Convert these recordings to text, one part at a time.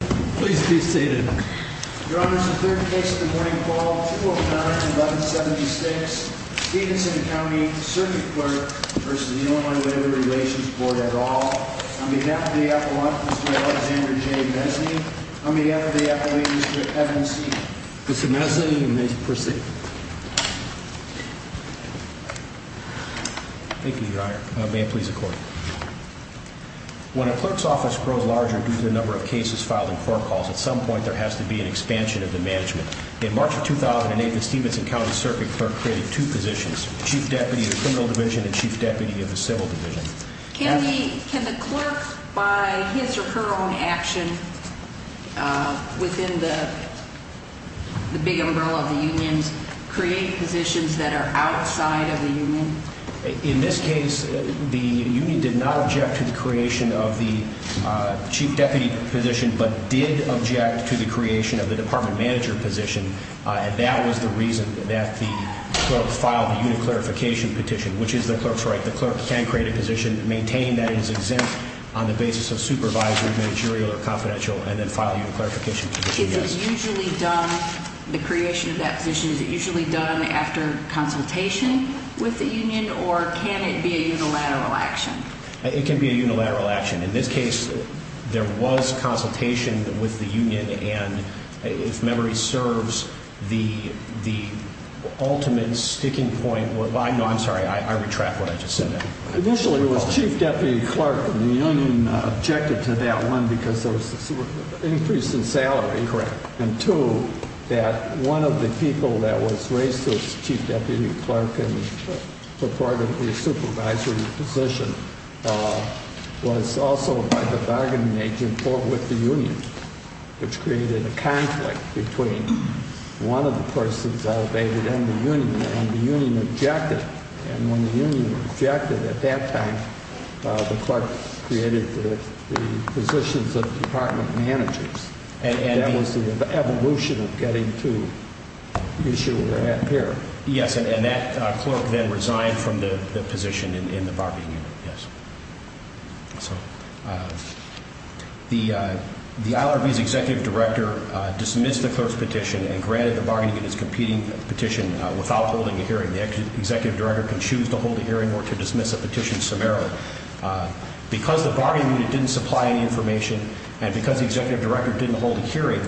Please be seated. Your Honor, this is the third case of the morning call, 209-1176, Stevenson County Circuit Clerk v. Illinois Labor Relations Board at all. On behalf of the appellant, Mr. Alexander J. Mesny, on behalf of the appellate district, evidence seated. Mr. Mesny, you may proceed. Thank you, Your Honor. May it please the Court. When a clerk's office grows larger due to the number of cases filed in court calls, at some point there has to be an expansion of the management. In March of 2008, the Stevenson County Circuit Clerk created two positions, Chief Deputy of the Criminal Division and Chief Deputy of the Civil Division. Can the clerk, by his or her own action, within the big umbrella of the unions, create positions that are outside of the union? In this case, the union did not object to the creation of the Chief Deputy position, but did object to the creation of the Department Manager position. That was the reason that the clerk filed the union clarification petition, which is the clerk's right. The clerk can create a position, maintain that it is exempt on the basis of supervisory, managerial, or confidential, and then file a union clarification petition. The creation of that position, is it usually done after consultation with the union, or can it be a unilateral action? It can be a unilateral action. In this case, there was consultation with the union, and if memory serves, the ultimate sticking point was... I'm sorry, I retract what I just said there. Initially, it was Chief Deputy Clerk, and the union objected to that. One, because there was an increase in salary. Correct. And two, that one of the people that was raised as Chief Deputy Clerk, and took part of the supervisory position, was also by the bargaining agent, fought with the union. Which created a conflict between one of the persons elevated and the union, and the union objected. And when the union objected at that time, the clerk created the positions of Department Managers. That was the evolution of getting to the issue we're at here. Yes, and that clerk then resigned from the position in the bargaining unit, yes. So, the IRB's Executive Director dismissed the clerk's petition and granted the bargaining unit's competing petition without holding a hearing. The Executive Director can choose to hold a hearing or to dismiss a petition summarily. Because the bargaining unit didn't supply any information, and because the Executive Director didn't hold a hearing,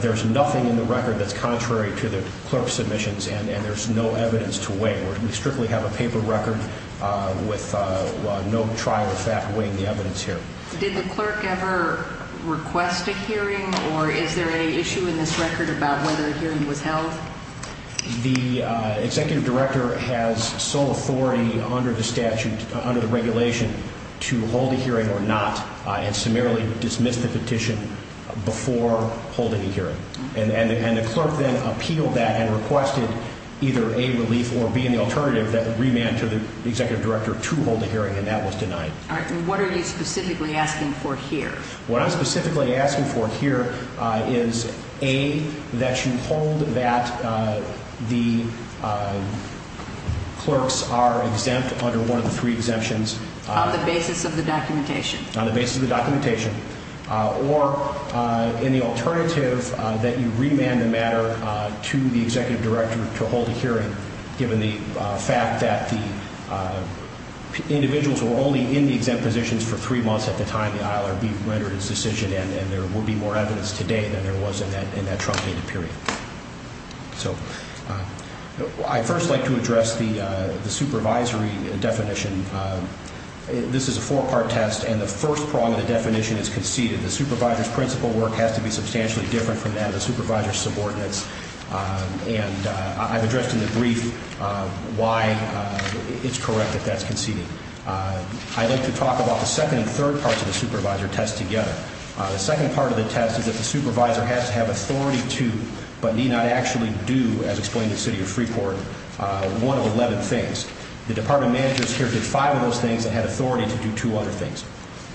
there's nothing in the record that's contrary to the clerk's submissions, and there's no evidence to weigh. We strictly have a paper record with no trial fact weighing the evidence here. Did the clerk ever request a hearing, or is there an issue in this record about whether a hearing was held? The Executive Director has sole authority under the statute, under the regulation, to hold a hearing or not, and summarily dismiss the petition before holding a hearing. And the clerk then appealed that and requested either A, relief, or B, in the alternative, that the remand to the Executive Director to hold a hearing, and that was denied. All right, and what are you specifically asking for here? What I'm specifically asking for here is A, that you hold that the clerks are exempt under one of the three exemptions. On the basis of the documentation. On the basis of the documentation, or in the alternative, that you remand the matter to the Executive Director to hold a hearing, given the fact that the individuals were only in the exempt positions for three months at the time the ILRB rendered its decision, and there would be more evidence today than there was in that truncated period. So, I'd first like to address the supervisory definition. This is a four-part test, and the first prong of the definition is conceded. The supervisor's principal work has to be substantially different from that of the supervisor's subordinates, and I've addressed in the brief why it's correct that that's conceded. I'd like to talk about the second and third parts of the supervisor test together. The second part of the test is that the supervisor has to have authority to, but need not actually do, as explained in the City of Freeport, one of 11 things. The department managers here did five of those things and had authority to do two other things.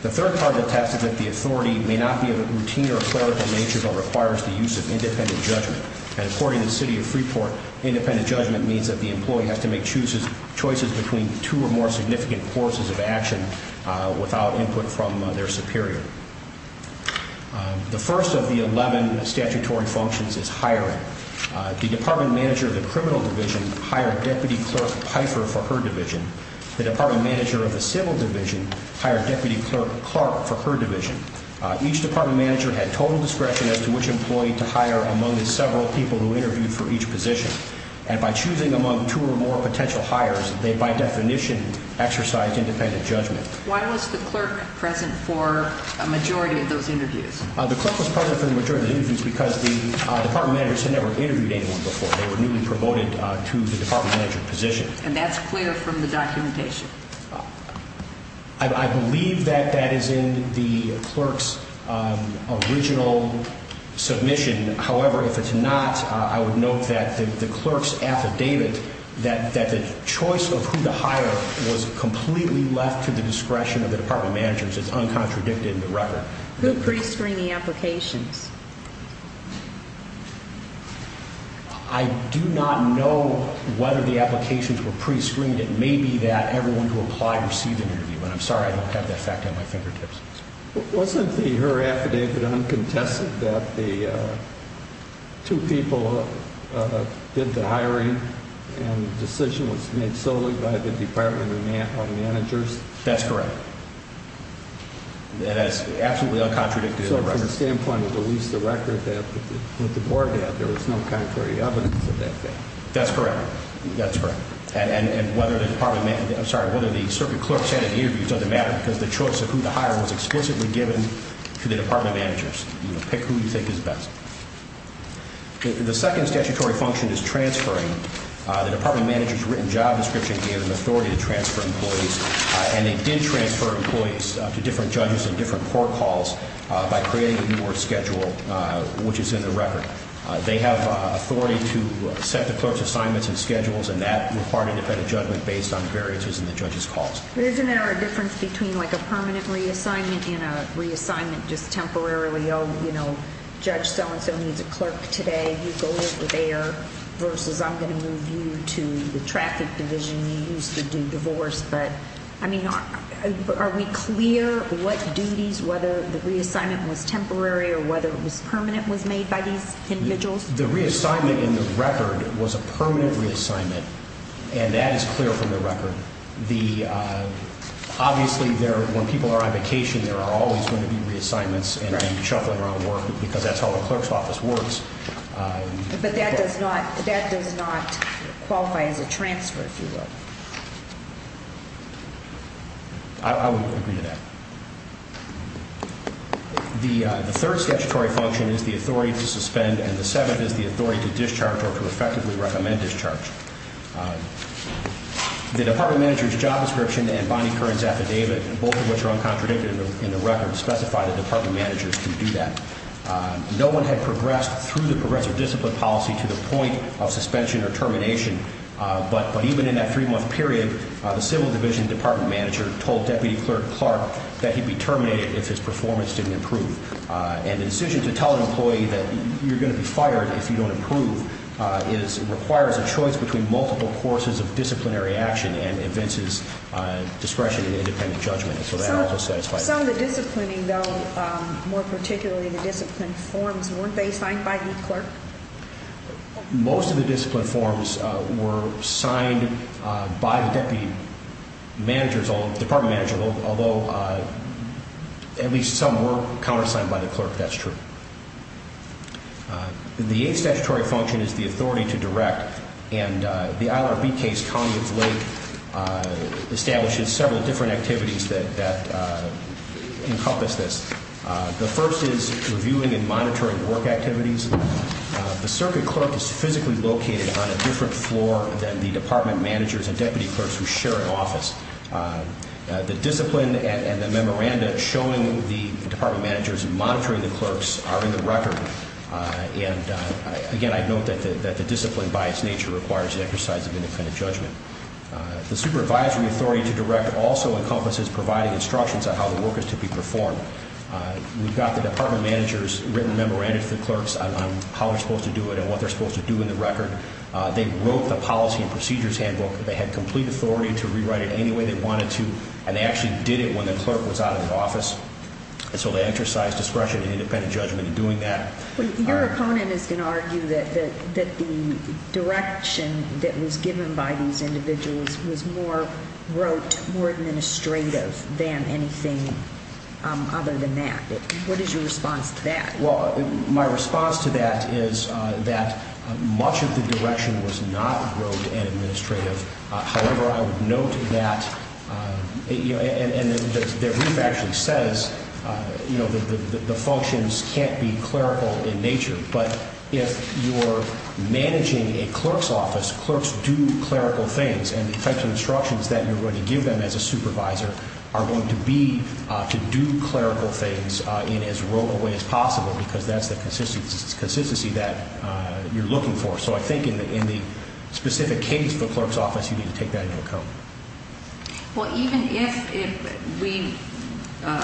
The third part of the test is that the authority may not be of a routine or clerical nature, but requires the use of independent judgment. According to the City of Freeport, independent judgment means that the employee has to make choices between two or more significant forces of action without input from their superior. The first of the 11 statutory functions is hiring. The department manager of the criminal division hired Deputy Clerk Pifer for her division. The department manager of the civil division hired Deputy Clerk Clark for her division. Each department manager had total discretion as to which employee to hire among the several people who interviewed for each position, and by choosing among two or more potential hires, they by definition exercised independent judgment. Why was the clerk present for a majority of those interviews? The clerk was present for the majority of the interviews because the department managers had never interviewed anyone before. They were newly promoted to the department manager position. And that's clear from the documentation? I believe that that is in the clerk's original submission. However, if it's not, I would note that the clerk's affidavit that the choice of who to hire was completely left to the discretion of the department managers. It's uncontradicted in the record. Who pre-screened the applications? I do not know whether the applications were pre-screened. It may be that everyone who applied received an interview, and I'm sorry I don't have that fact at my fingertips. Wasn't her affidavit uncontested that the two people did the hiring, and the decision was made solely by the department managers? That's correct. That is absolutely uncontradicted in the record. So from the standpoint of at least the record that the board had, there was no contrary evidence of that fact? That's correct. That's correct. And whether the department – I'm sorry, whether the circuit clerks had an interview doesn't matter because the choice of who to hire was explicitly given to the department managers. Pick who you think is best. The second statutory function is transferring. The department managers' written job description gave them authority to transfer employees, and they did transfer employees to different judges and different court halls by creating a new work schedule, which is in the record. They have authority to set the clerk's assignments and schedules, and that required a judgment based on variances in the judge's calls. But isn't there a difference between like a permanent reassignment and a reassignment just temporarily? Oh, you know, Judge so-and-so needs a clerk today. You go over there versus I'm going to move you to the traffic division you used to do divorce. I mean, are we clear what duties, whether the reassignment was temporary or whether it was permanent, was made by these individuals? The reassignment in the record was a permanent reassignment, and that is clear from the record. Obviously, when people are on vacation, there are always going to be reassignments and shuffling around work because that's how a clerk's office works. But that does not qualify as a transfer, if you will. I would agree to that. The third statutory function is the authority to suspend, and the seventh is the authority to discharge or to effectively recommend discharge. The department manager's job description and Bonnie Curran's affidavit, both of which are uncontradicted in the record, specify that department managers can do that. No one had progressed through the progressive discipline policy to the point of suspension or termination. But even in that three-month period, the civil division department manager told Deputy Clerk Clark that he'd be terminated if his performance didn't improve. And the decision to tell an employee that you're going to be fired if you don't improve requires a choice between multiple courses of disciplinary action and evinces discretion in independent judgment. Some of the disciplining, though, more particularly the discipline forms, weren't they signed by the clerk? Most of the discipline forms were signed by the department manager, although at least some were countersigned by the clerk, that's true. The eighth statutory function is the authority to direct, and the IRB case, County of Lake, establishes several different activities that encompass this. The first is reviewing and monitoring work activities. The circuit clerk is physically located on a different floor than the department managers and deputy clerks who share an office. The discipline and the memoranda showing the department managers monitoring the clerks are in the record. And again, I note that the discipline by its nature requires the exercise of independent judgment. The supervisory authority to direct also encompasses providing instructions on how the work is to be performed. We've got the department managers' written memoranda to the clerks on how they're supposed to do it and what they're supposed to do in the record. They wrote the policy and procedures handbook. They had complete authority to rewrite it any way they wanted to, and they actually did it when the clerk was out of the office. And so they exercised discretion in independent judgment in doing that. Your opponent is going to argue that the direction that was given by these individuals was more rote, more administrative than anything other than that. What is your response to that? Well, my response to that is that much of the direction was not rote and administrative. However, I would note that, and the brief actually says, you know, the functions can't be clerical in nature. But if you're managing a clerk's office, clerks do clerical things, and the types of instructions that you're going to give them as a supervisor are going to be to do clerical things in as rote a way as possible because that's the consistency that you're looking for. So I think in the specific case of the clerk's office, you need to take that into account. Well, even if we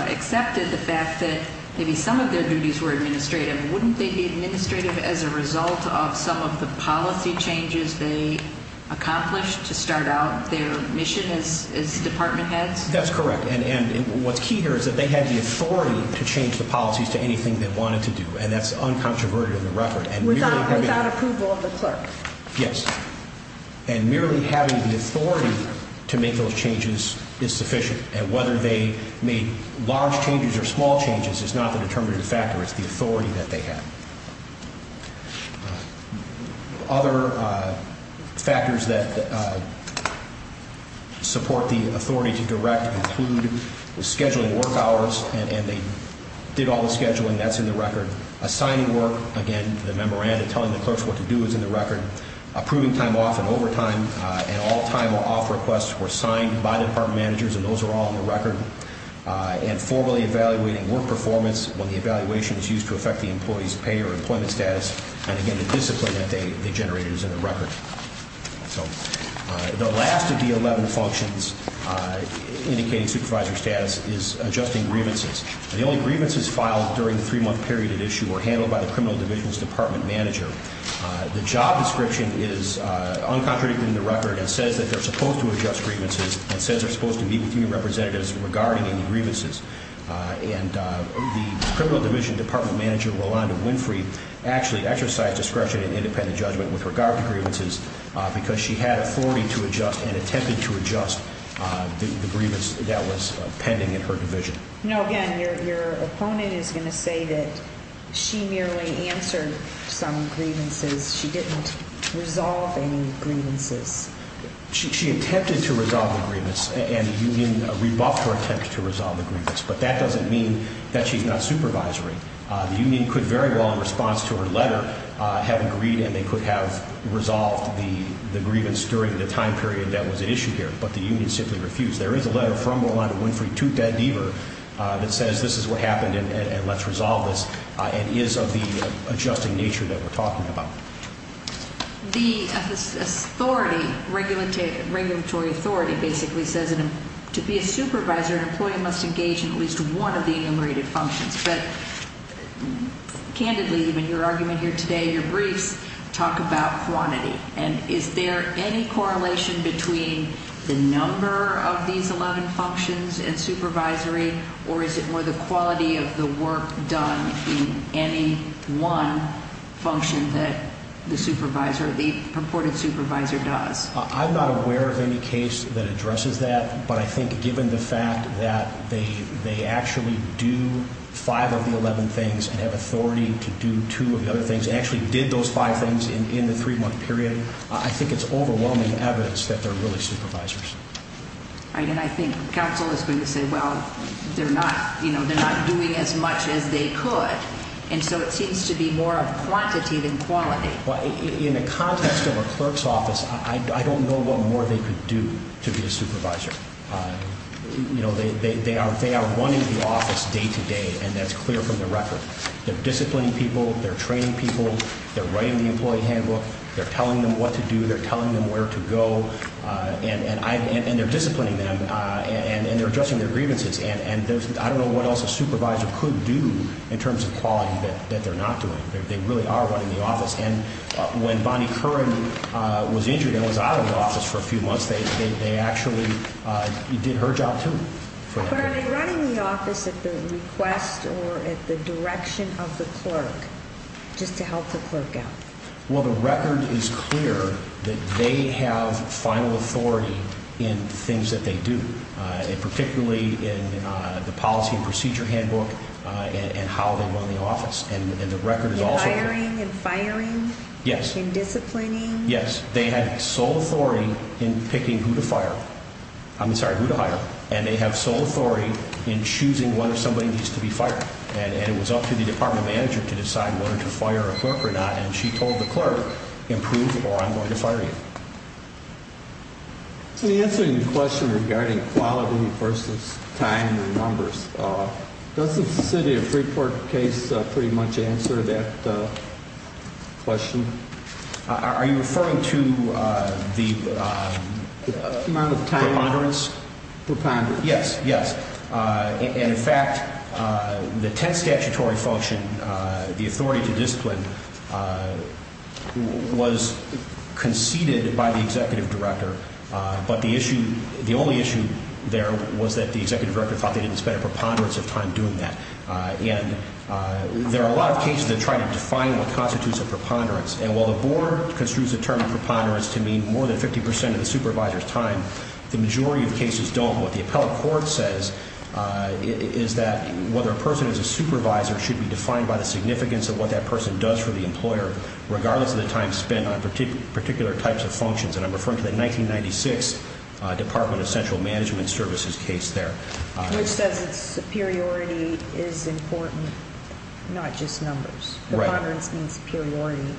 accepted the fact that maybe some of their duties were administrative, wouldn't they be administrative as a result of some of the policy changes they accomplished to start out their mission as department heads? That's correct. And what's key here is that they had the authority to change the policies to anything they wanted to do, and that's uncontroverted in the record. Without approval of the clerk. Yes. And merely having the authority to make those changes is sufficient. And whether they made large changes or small changes is not the determinative factor. It's the authority that they have. Other factors that support the authority to direct include scheduling work hours, and they did all the scheduling. That's in the record. Assigning work, again, the memorandum telling the clerks what to do is in the record. Approving time off and overtime, and all time off requests were signed by the department managers, and those are all in the record. And formally evaluating work performance when the evaluation is used to affect the employee's pay or employment status. And, again, the discipline that they generated is in the record. So the last of the 11 functions indicating supervisor status is adjusting grievances. The only grievances filed during the three-month period at issue were handled by the criminal division's department manager. The job description is uncontradicted in the record and says that they're supposed to adjust grievances and says they're supposed to meet with new representatives regarding any grievances. And the criminal division department manager, Rolanda Winfrey, actually exercised discretion in independent judgment with regard to grievances because she had authority to adjust and attempted to adjust the grievance that was pending in her division. Now, again, your opponent is going to say that she merely answered some grievances. She didn't resolve any grievances. She attempted to resolve the grievance, and the union rebuffed her attempt to resolve the grievance. But that doesn't mean that she's not supervisory. The union could very well, in response to her letter, have agreed and they could have resolved the grievance during the time period that was at issue here. But the union simply refused. There is a letter from Rolanda Winfrey to Ted Deaver that says this is what happened and let's resolve this and is of the adjusting nature that we're talking about. The authority, regulatory authority, basically says to be a supervisor, an employee must engage in at least one of the enumerated functions. But candidly, even your argument here today, your briefs talk about quantity. And is there any correlation between the number of these 11 functions and supervisory, or is it more the quality of the work done in any one function that the supervisor, the purported supervisor does? I'm not aware of any case that addresses that. But I think given the fact that they actually do five of the 11 things and have authority to do two of the other things, actually did those five things in the three-month period, I think it's overwhelming evidence that they're really supervisors. And I think counsel is going to say, well, they're not doing as much as they could. And so it seems to be more of quantity than quality. In the context of a clerk's office, I don't know what more they could do to be a supervisor. They are running the office day to day, and that's clear from the record. They're disciplining people. They're training people. They're writing the employee handbook. They're telling them what to do. They're telling them where to go. And they're disciplining them, and they're addressing their grievances. And I don't know what else a supervisor could do in terms of quality that they're not doing. They really are running the office. And when Bonnie Curran was injured and was out of the office for a few months, they actually did her job too. But are they running the office at the request or at the direction of the clerk just to help the clerk out? Well, the record is clear that they have final authority in things that they do, and particularly in the policy and procedure handbook and how they run the office. And the record is also clear. Hiring and firing? Yes. And disciplining? Yes. They have sole authority in picking who to hire, and they have sole authority in choosing whether somebody needs to be fired. And it was up to the department manager to decide whether to fire a clerk or not, and she told the clerk, improve or I'm going to fire you. In answering the question regarding quality versus time and numbers, does the city of Freeport case pretty much answer that question? Are you referring to the amount of time? Preponderance. Preponderance. Yes, yes. And, in fact, the 10th statutory function, the authority to discipline, was conceded by the executive director, but the only issue there was that the executive director thought they didn't spend a preponderance of time doing that. And there are a lot of cases that try to define what constitutes a preponderance, and while the board construes the term preponderance to mean more than 50 percent of the supervisor's time, the majority of cases don't. What the appellate court says is that whether a person is a supervisor should be defined by the significance of what that person does for the employer, regardless of the time spent on particular types of functions. And I'm referring to the 1996 Department of Central Management Services case there. Which says that superiority is important, not just numbers. Right. Preponderance means superiority,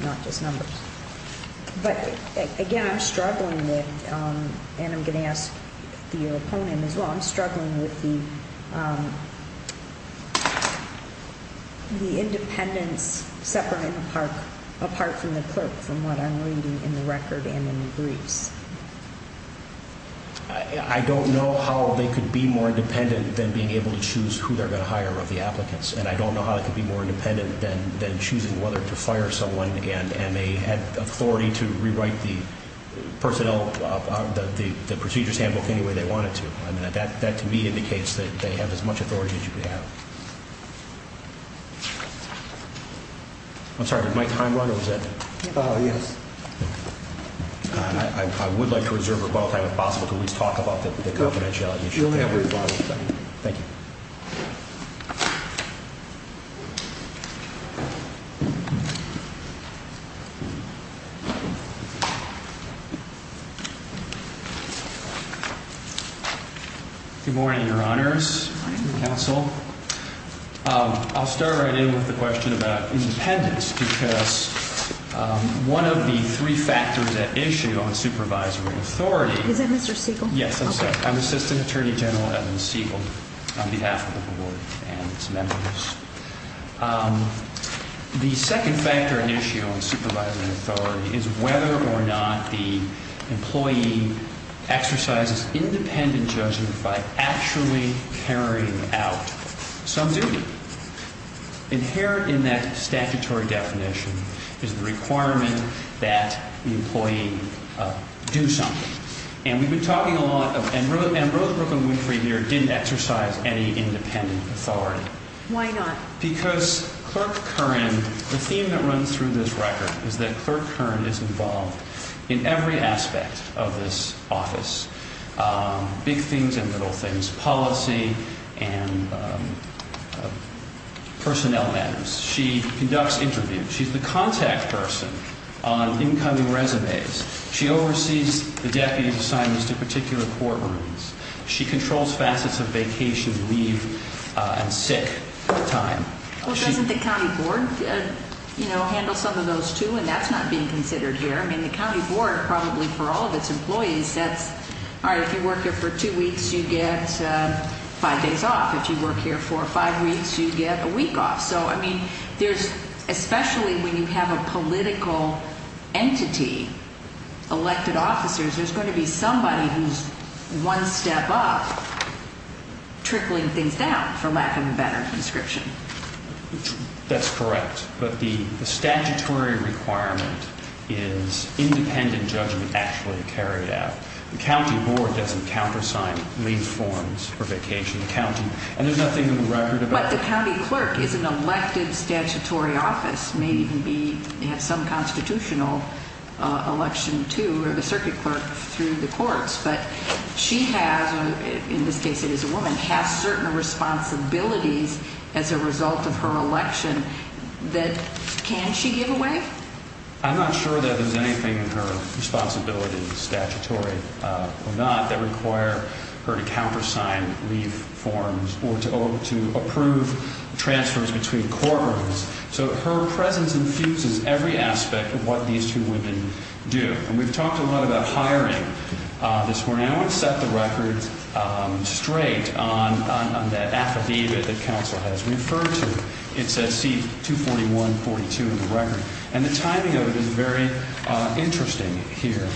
not just numbers. But, again, I'm struggling with, and I'm going to ask your opponent as well, I'm struggling with the independence separate and apart from the clerk from what I'm reading in the record and in the briefs. I don't know how they could be more independent than being able to choose who they're going to hire of the applicants, and I don't know how they could be more independent than choosing whether to fire someone and they had authority to rewrite the procedures handbook any way they wanted to. That, to me, indicates that they have as much authority as you could have. I'm sorry, did my time run or was that? Yes. I would like to reserve a little time if possible to at least talk about the confidentiality issue. You'll have your time. Thank you. Thank you. Good morning, Your Honors. Good morning. Counsel. I'll start right in with the question about independence because one of the three factors at issue on supervisory authority. Is that Mr. Siegel? Yes, I'm sorry. This is Attorney General Evan Siegel on behalf of the Board and its members. The second factor at issue on supervisory authority is whether or not the employee exercises independent judgment by actually carrying out some duty. Inherent in that statutory definition is the requirement that the employee do something. And we've been talking a lot and Ambrose Brooklyn Winfrey here didn't exercise any independent authority. Why not? Because Clerk Curran, the theme that runs through this record is that Clerk Curran is involved in every aspect of this office. Big things and little things. Policy and personnel matters. She conducts interviews. She's the contact person on incoming resumes. She oversees the deputy assignments to particular courtrooms. She controls facets of vacation, leave, and sick time. Well, doesn't the county board handle some of those too? And that's not being considered here. I mean, the county board probably for all of its employees says, all right, if you work here for two weeks, you get five days off. If you work here for five weeks, you get a week off. So, I mean, there's especially when you have a political entity, elected officers, there's going to be somebody who's one step up trickling things down, for lack of a better description. That's correct. But the statutory requirement is independent judgment actually carried out. The county board doesn't countersign leave forms for vacation. And there's nothing in the record about that. But the county clerk is an elected statutory office, may even have some constitutional election too, or the circuit clerk through the courts. But she has, in this case it is a woman, has certain responsibilities as a result of her election that can she give away? I'm not sure that there's anything in her responsibilities, statutory or not, that require her to countersign leave forms or to approve transfers between courtrooms. So, her presence infuses every aspect of what these two women do. And we've talked a lot about hiring this morning. I want to set the record straight on that affidavit that counsel has referred to. It says C-241-42 in the record. And the timing of it is very interesting here.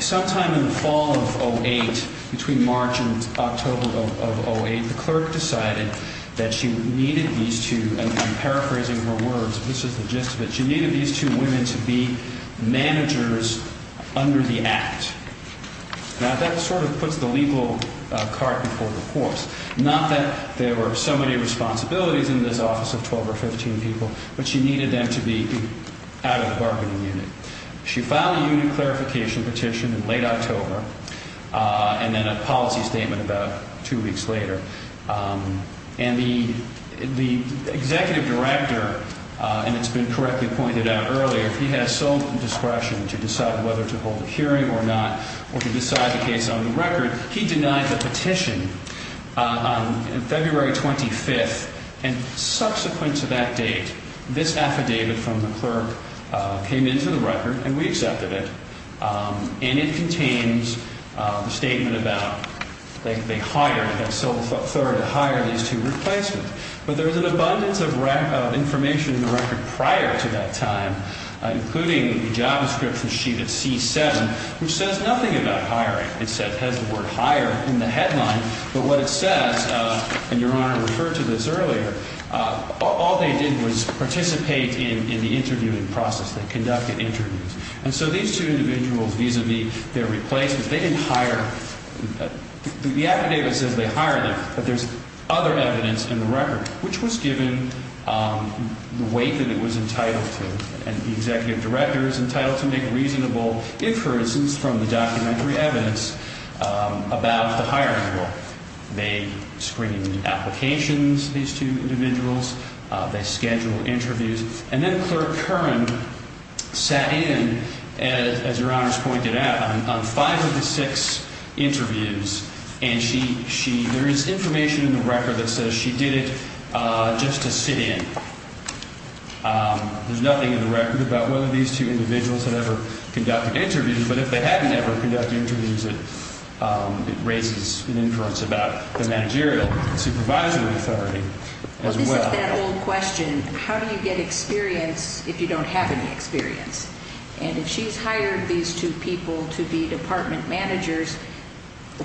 Sometime in the fall of 08, between March and October of 08, the clerk decided that she needed these two, and I'm paraphrasing her words, this is the gist of it, she needed these two women to be managers under the act. Now, that sort of puts the legal cart before the horse. Not that there were so many responsibilities in this office of 12 or 15 people, but she needed them to be out of the bargaining unit. She filed a unit clarification petition in late October and then a policy statement about two weeks later. And the executive director, and it's been correctly pointed out earlier, he has some discretion to decide whether to hold a hearing or not or to decide the case on the record. He denied the petition on February 25th, and subsequent to that date, this affidavit from the clerk came into the record, and we accepted it, and it contains a statement about they hired, had sole authority to hire these two replacements. But there was an abundance of information in the record prior to that time, including the JavaScript from sheet of C-7, which says nothing about hiring. It has the word hire in the headline, but what it says, and Your Honor referred to this earlier, all they did was participate in the interviewing process. They conducted interviews. And so these two individuals, vis-a-vis their replacements, they didn't hire. The affidavit says they hired them, but there's other evidence in the record, which was given the weight that it was entitled to. And the executive director is entitled to make reasonable inferences from the documentary evidence about the hiring rule. They screened the applications, these two individuals. They scheduled interviews. And then Clerk Curran sat in, as Your Honor's pointed out, on five of the six interviews, and there is information in the record that says she did it just to sit in. There's nothing in the record about whether these two individuals had ever conducted interviews, but if they hadn't ever conducted interviews, it raises an inference about the managerial supervisory authority as well. Well, this is that old question, how do you get experience if you don't have any experience? And if she's hired these two people to be department managers,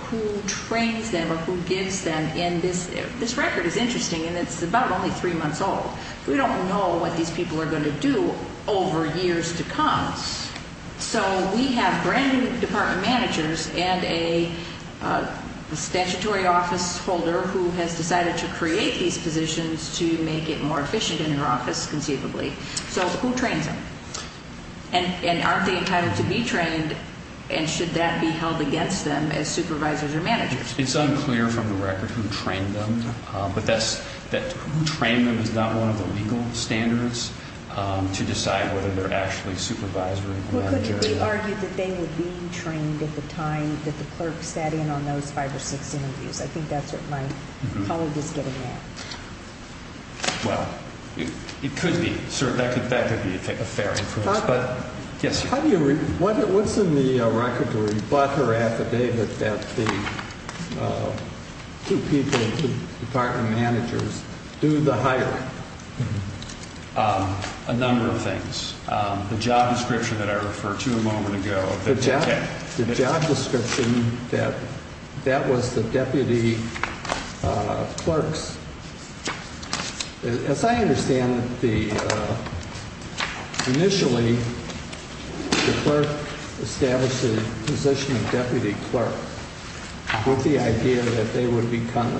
who trains them or who gives them? And this record is interesting, and it's about only three months old. We don't know what these people are going to do over years to come. So we have brand new department managers and a statutory office holder who has decided to create these positions to make it more efficient in her office conceivably. So who trains them? And aren't they entitled to be trained, and should that be held against them as supervisors or managers? It's unclear from the record who trained them, but who trained them is not one of the legal standards to decide whether they're actually supervisory or managerial. Well, couldn't it be argued that they would be trained at the time that the clerk sat in on those five or six interviews? I think that's what my colleague is getting at. Well, it could be. That could be a fair inference. What's in the record to rebut her affidavit that the two people, two department managers, do the hiring? A number of things. The job description that I referred to a moment ago. The job description that that was the deputy clerk's. As I understand it, initially the clerk established the position of deputy clerk with the idea that they would become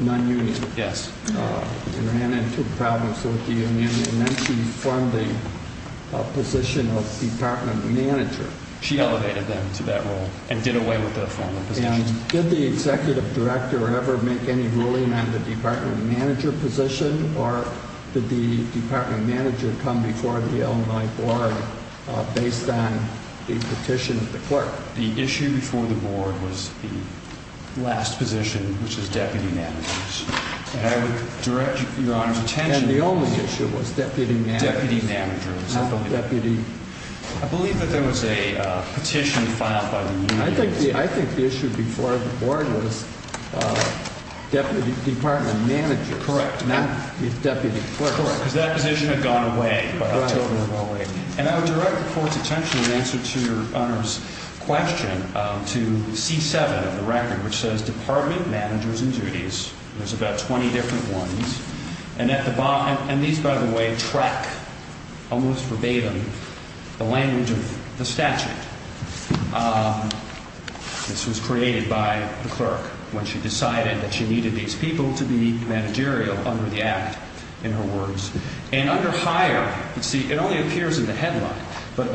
non-union. They ran into problems with the union, and then she formed the position of department manager. She elevated them to that role and did away with their former position. And did the executive director ever make any ruling on the department manager position, or did the department manager come before the alumni board based on the petition of the clerk? The issue before the board was the last position, which was deputy managers. And I would direct Your Honor's attention. And the only issue was deputy managers. Deputy managers. Not deputy. I believe that there was a petition filed by the union. I think the issue before the board was deputy department managers. Correct. Not deputy clerks. Correct. Because that position had gone away. Totally gone away. And I would direct the court's attention in answer to Your Honor's question to C7 of the record, which says department managers and duties. There's about 20 different ones. And these, by the way, track almost verbatim the language of the statute. This was created by the clerk when she decided that she needed these people to be managerial under the act, in her words. And under hire, you see, it only appears in the headline. But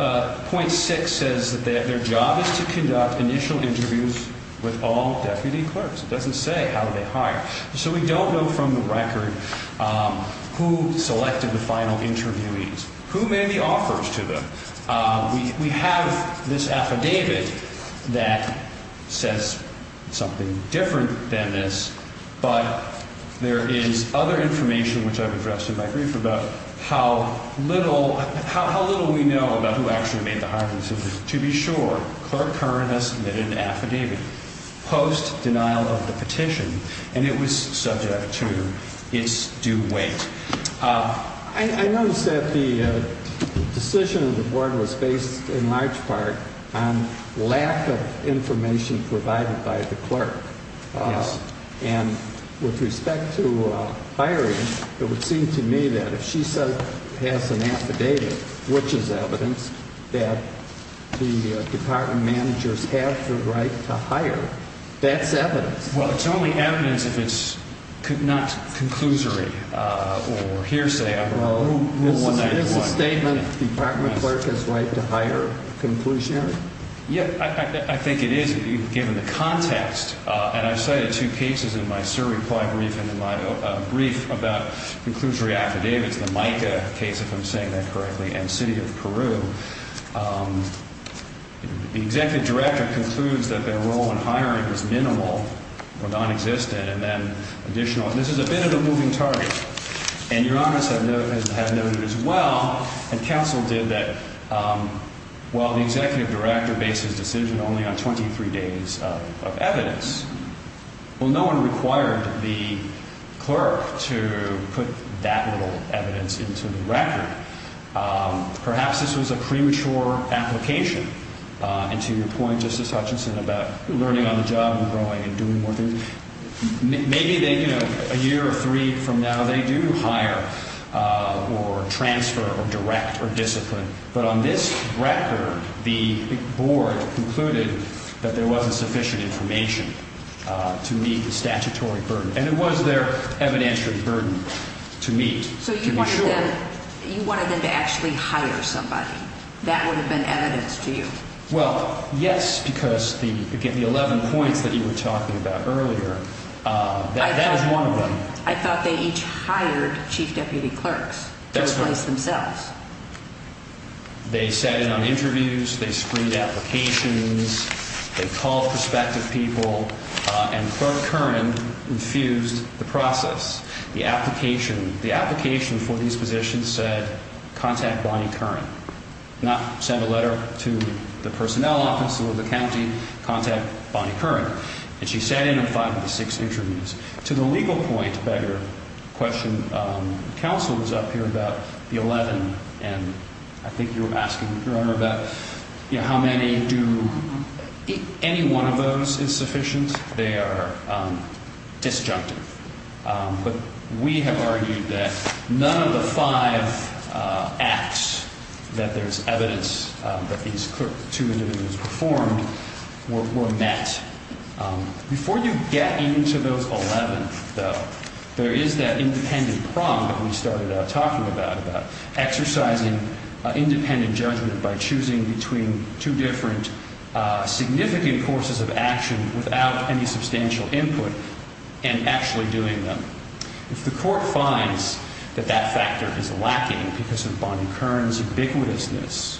point six says that their job is to conduct initial interviews with all deputy clerks. It doesn't say how they hire. So we don't know from the record who selected the final interviewees, who made the offers to them. We have this affidavit that says something different than this. But there is other information, which I've addressed in my brief, about how little we know about who actually made the hiring decisions. To be sure, Clerk Curran has submitted an affidavit post-denial of the petition, and it was subject to its due weight. I noticed that the decision of the board was based, in large part, on lack of information provided by the clerk. Yes. And with respect to hiring, it would seem to me that if she has an affidavit, which is evidence, that the department managers have the right to hire, that's evidence. Well, it's only evidence if it's not conclusory or hearsay. Well, is the statement the department clerk has the right to hire conclusionary? Yeah, I think it is, given the context. And I've cited two cases in my survey brief and in my brief about conclusory affidavits, the Mica case, if I'm saying that correctly, and City of Peru. The executive director concludes that their role in hiring is minimal or nonexistent, and then additional. And this is a bit of a moving target. And Your Honor has noted as well, and counsel did, that while the executive director based his decision only on 23 days of evidence, well, no one required the clerk to put that little evidence into the record. Perhaps this was a premature application. And to your point, Justice Hutchinson, about learning on the job and growing and doing more things, maybe a year or three from now they do hire or transfer or direct or discipline. But on this record, the board concluded that there wasn't sufficient information to meet the statutory burden. And it was their evidentiary burden to meet, to be sure. You wanted them to actually hire somebody. That would have been evidence to you. Well, yes, because, again, the 11 points that you were talking about earlier, that is one of them. I thought they each hired chief deputy clerks to replace themselves. They sat in on interviews. They screened applications. They called prospective people. And Clerk Curran infused the process. The application for these positions said contact Bonnie Curran, not send a letter to the personnel office or the county. Contact Bonnie Curran. And she sat in on five of the six interviews. To the legal point, better question, counsel was up here about the 11. And I think you were asking, Your Honor, about how many do any one of those is sufficient. They are disjunctive. But we have argued that none of the five acts that there is evidence that these two individuals performed were met. Before you get into those 11, though, there is that independent prong that we started out talking about, about exercising independent judgment by choosing between two different significant courses of action without any substantial input and actually doing them. If the court finds that that factor is lacking because of Bonnie Curran's ubiquitousness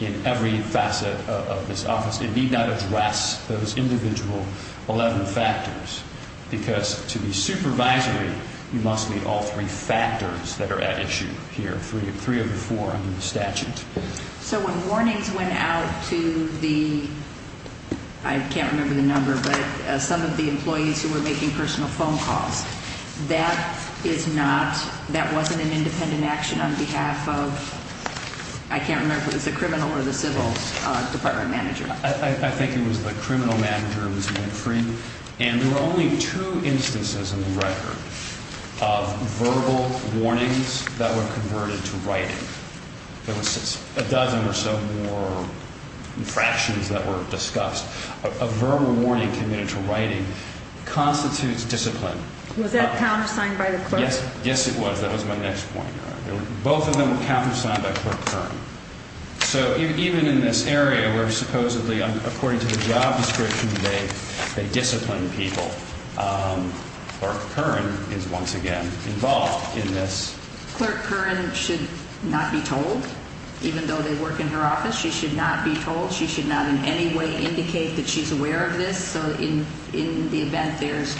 in every facet of this office, it need not address those individual 11 factors because to be supervisory, you must meet all three factors that are at issue here, three of the four under the statute. So when warnings went out to the, I can't remember the number, but some of the employees who were making personal phone calls, that is not, that wasn't an independent action on behalf of, I can't remember if it was the criminal or the civil department manager. I think it was the criminal manager, it was Winfrey. And there were only two instances in the record of verbal warnings that were converted to writing. There was a dozen or so more infractions that were discussed. A verbal warning committed to writing constitutes discipline. Was that countersigned by the clerk? Yes, it was. That was my next point. Both of them were countersigned by Clerk Curran. So even in this area where supposedly, according to the job description, they disciplined people, Clerk Curran is once again involved in this. Clerk Curran should not be told, even though they work in her office. She should not be told. She should not in any way indicate that she's aware of this. So in the event there's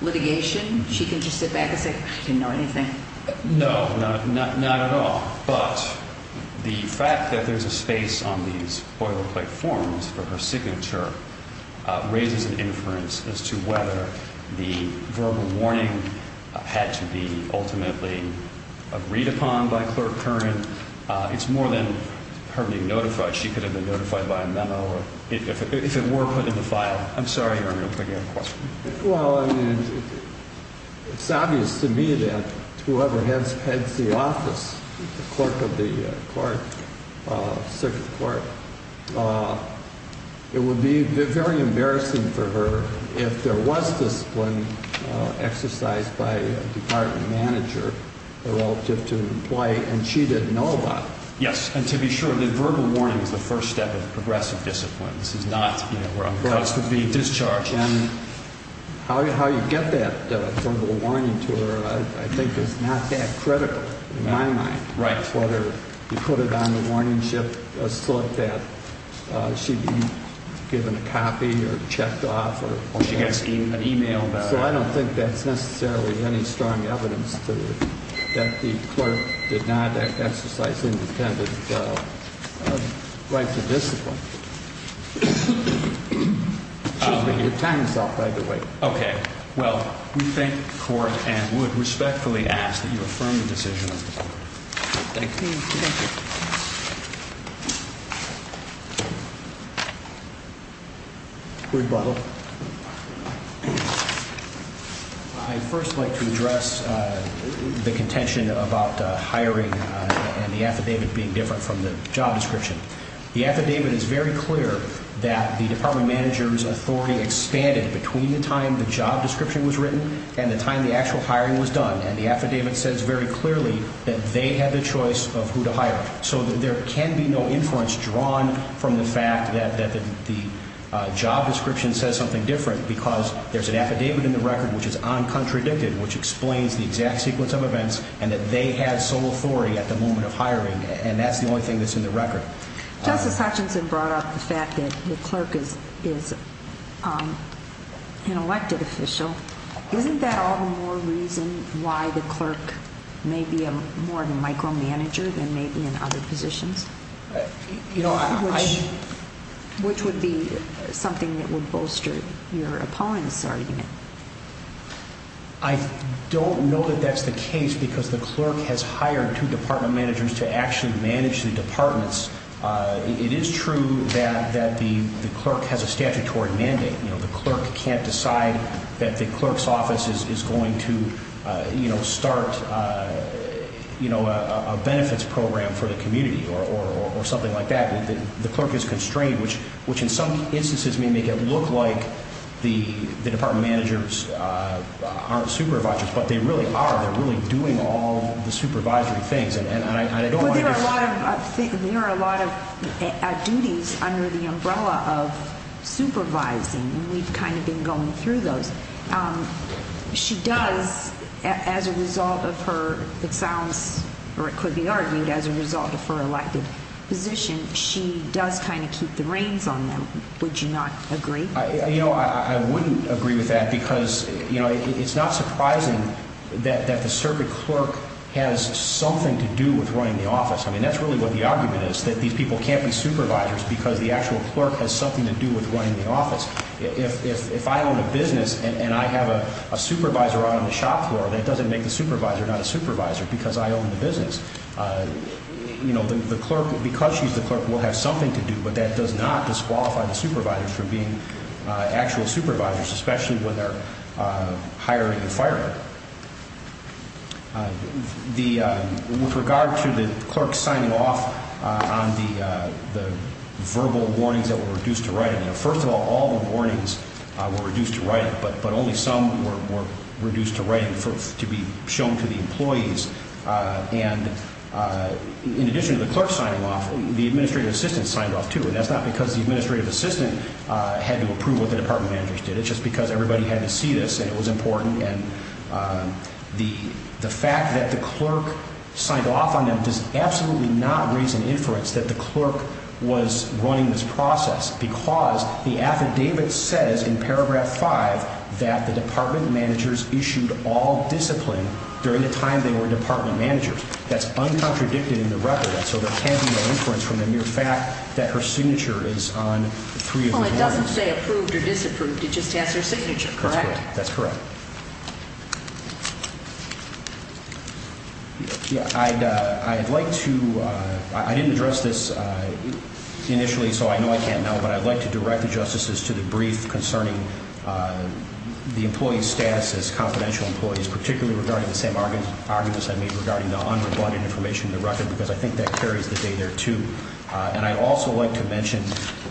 litigation, she can just sit back and say, I didn't know anything. No, not at all. But the fact that there's a space on these boilerplate forms for her signature raises an inference as to whether the verbal warning had to be ultimately agreed upon by Clerk Curran. It's more than her being notified. She could have been notified by a memo if it were put in the file. I'm sorry, Your Honor, I'm thinking of a question. Well, I mean, it's obvious to me that whoever heads the office, the clerk of the court, circuit court, it would be very embarrassing for her if there was discipline exercised by a department manager relative to an employee, and she didn't know about it. Yes, and to be sure, the verbal warning is the first step in progressive discipline. This is not where a cause could be discharged. And how you get that verbal warning to her, I think, is not that critical in my mind. Right. It's not whether you put it on the warning slip that she'd be given a copy or checked off. Or she gets an e-mail about it. So I don't think that's necessarily any strong evidence that the clerk did not exercise independent right to discipline. Excuse me, your time is up, by the way. Okay. Well, we thank the court and would respectfully ask that you affirm the decision of the court. Thank you. Thank you. Rebuttal. I'd first like to address the contention about hiring and the affidavit being different from the job description. The affidavit is very clear that the department manager's authority expanded between the time the job description was written and the time the actual hiring was done. And the affidavit says very clearly that they had the choice of who to hire. So there can be no inference drawn from the fact that the job description says something different because there's an affidavit in the record which is uncontradicted, which explains the exact sequence of events and that they had sole authority at the moment of hiring. And that's the only thing that's in the record. Justice Hutchinson brought up the fact that the clerk is an elected official. Isn't that all the more reason why the clerk may be more of a micromanager than maybe in other positions? Which would be something that would bolster your opponent's argument? I don't know that that's the case because the clerk has hired two department managers to actually manage the departments. It is true that the clerk has a statutory mandate. The clerk can't decide that the clerk's office is going to start a benefits program for the community or something like that. The clerk is constrained, which in some instances may make it look like the department managers aren't supervisors, but they really are. They're really doing all the supervisory things. There are a lot of duties under the umbrella of supervising, and we've kind of been going through those. She does, as a result of her elected position, keep the reins on them. Would you not agree? I wouldn't agree with that because it's not surprising that the circuit clerk has something to do with running the office. That's really what the argument is, that these people can't be supervisors because the actual clerk has something to do with running the office. If I own a business and I have a supervisor on the shop floor, that doesn't make the supervisor not a supervisor because I own the business. Because she's the clerk, we'll have something to do, but that does not disqualify the supervisors from being actual supervisors, especially when they're hiring and firing. With regard to the clerk signing off on the verbal warnings that were reduced to writing, first of all, all the warnings were reduced to writing, but only some were reduced to writing to be shown to the employees. In addition to the clerk signing off, the administrative assistant signed off too, and that's not because the administrative assistant had to approve what the department managers did. It's just because everybody had to see this, and it was important. The fact that the clerk signed off on them does absolutely not raise an inference that the clerk was running this process because the affidavit says in Paragraph 5 that the department managers issued all discipline during the time they were department managers. That's uncontradicted in the record, and so there can't be an inference from the mere fact that her signature is on three of these warnings. Well, it doesn't say approved or disapproved. It just has her signature, correct? That's correct. I didn't address this initially, so I know I can't know, but I'd like to direct the justices to the brief concerning the employee's status as confidential employees, particularly regarding the same arguments I made regarding the unrebutted information in the record, because I think that carries the day there too. And I'd also like to mention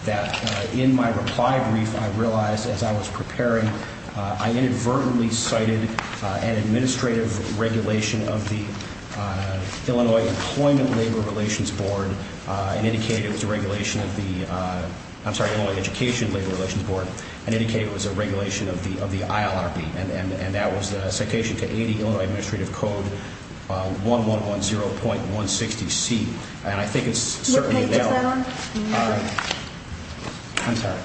that in my reply brief, I realized as I was preparing, I inadvertently cited an administrative regulation of the Illinois Employment Labor Relations Board and indicated it was a regulation of the Illinois Education Labor Relations Board and indicated it was a regulation of the ILRB, and that was the citation to 80 Illinois Administrative Code 1110.160C. What page is that on? I'm sorry.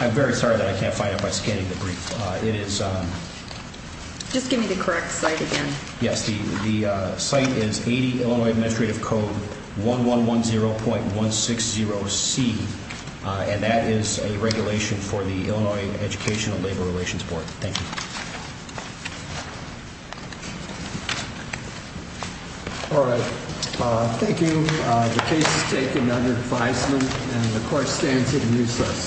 I'm very sorry that I can't find it by scanning the brief. Just give me the correct site again. Yes, the site is 80 Illinois Administrative Code 1110.160C, and that is a regulation for the Illinois Educational Labor Relations Board. Thank you. All right. Thank you. The case is taken under advisement, and the court stands it useless.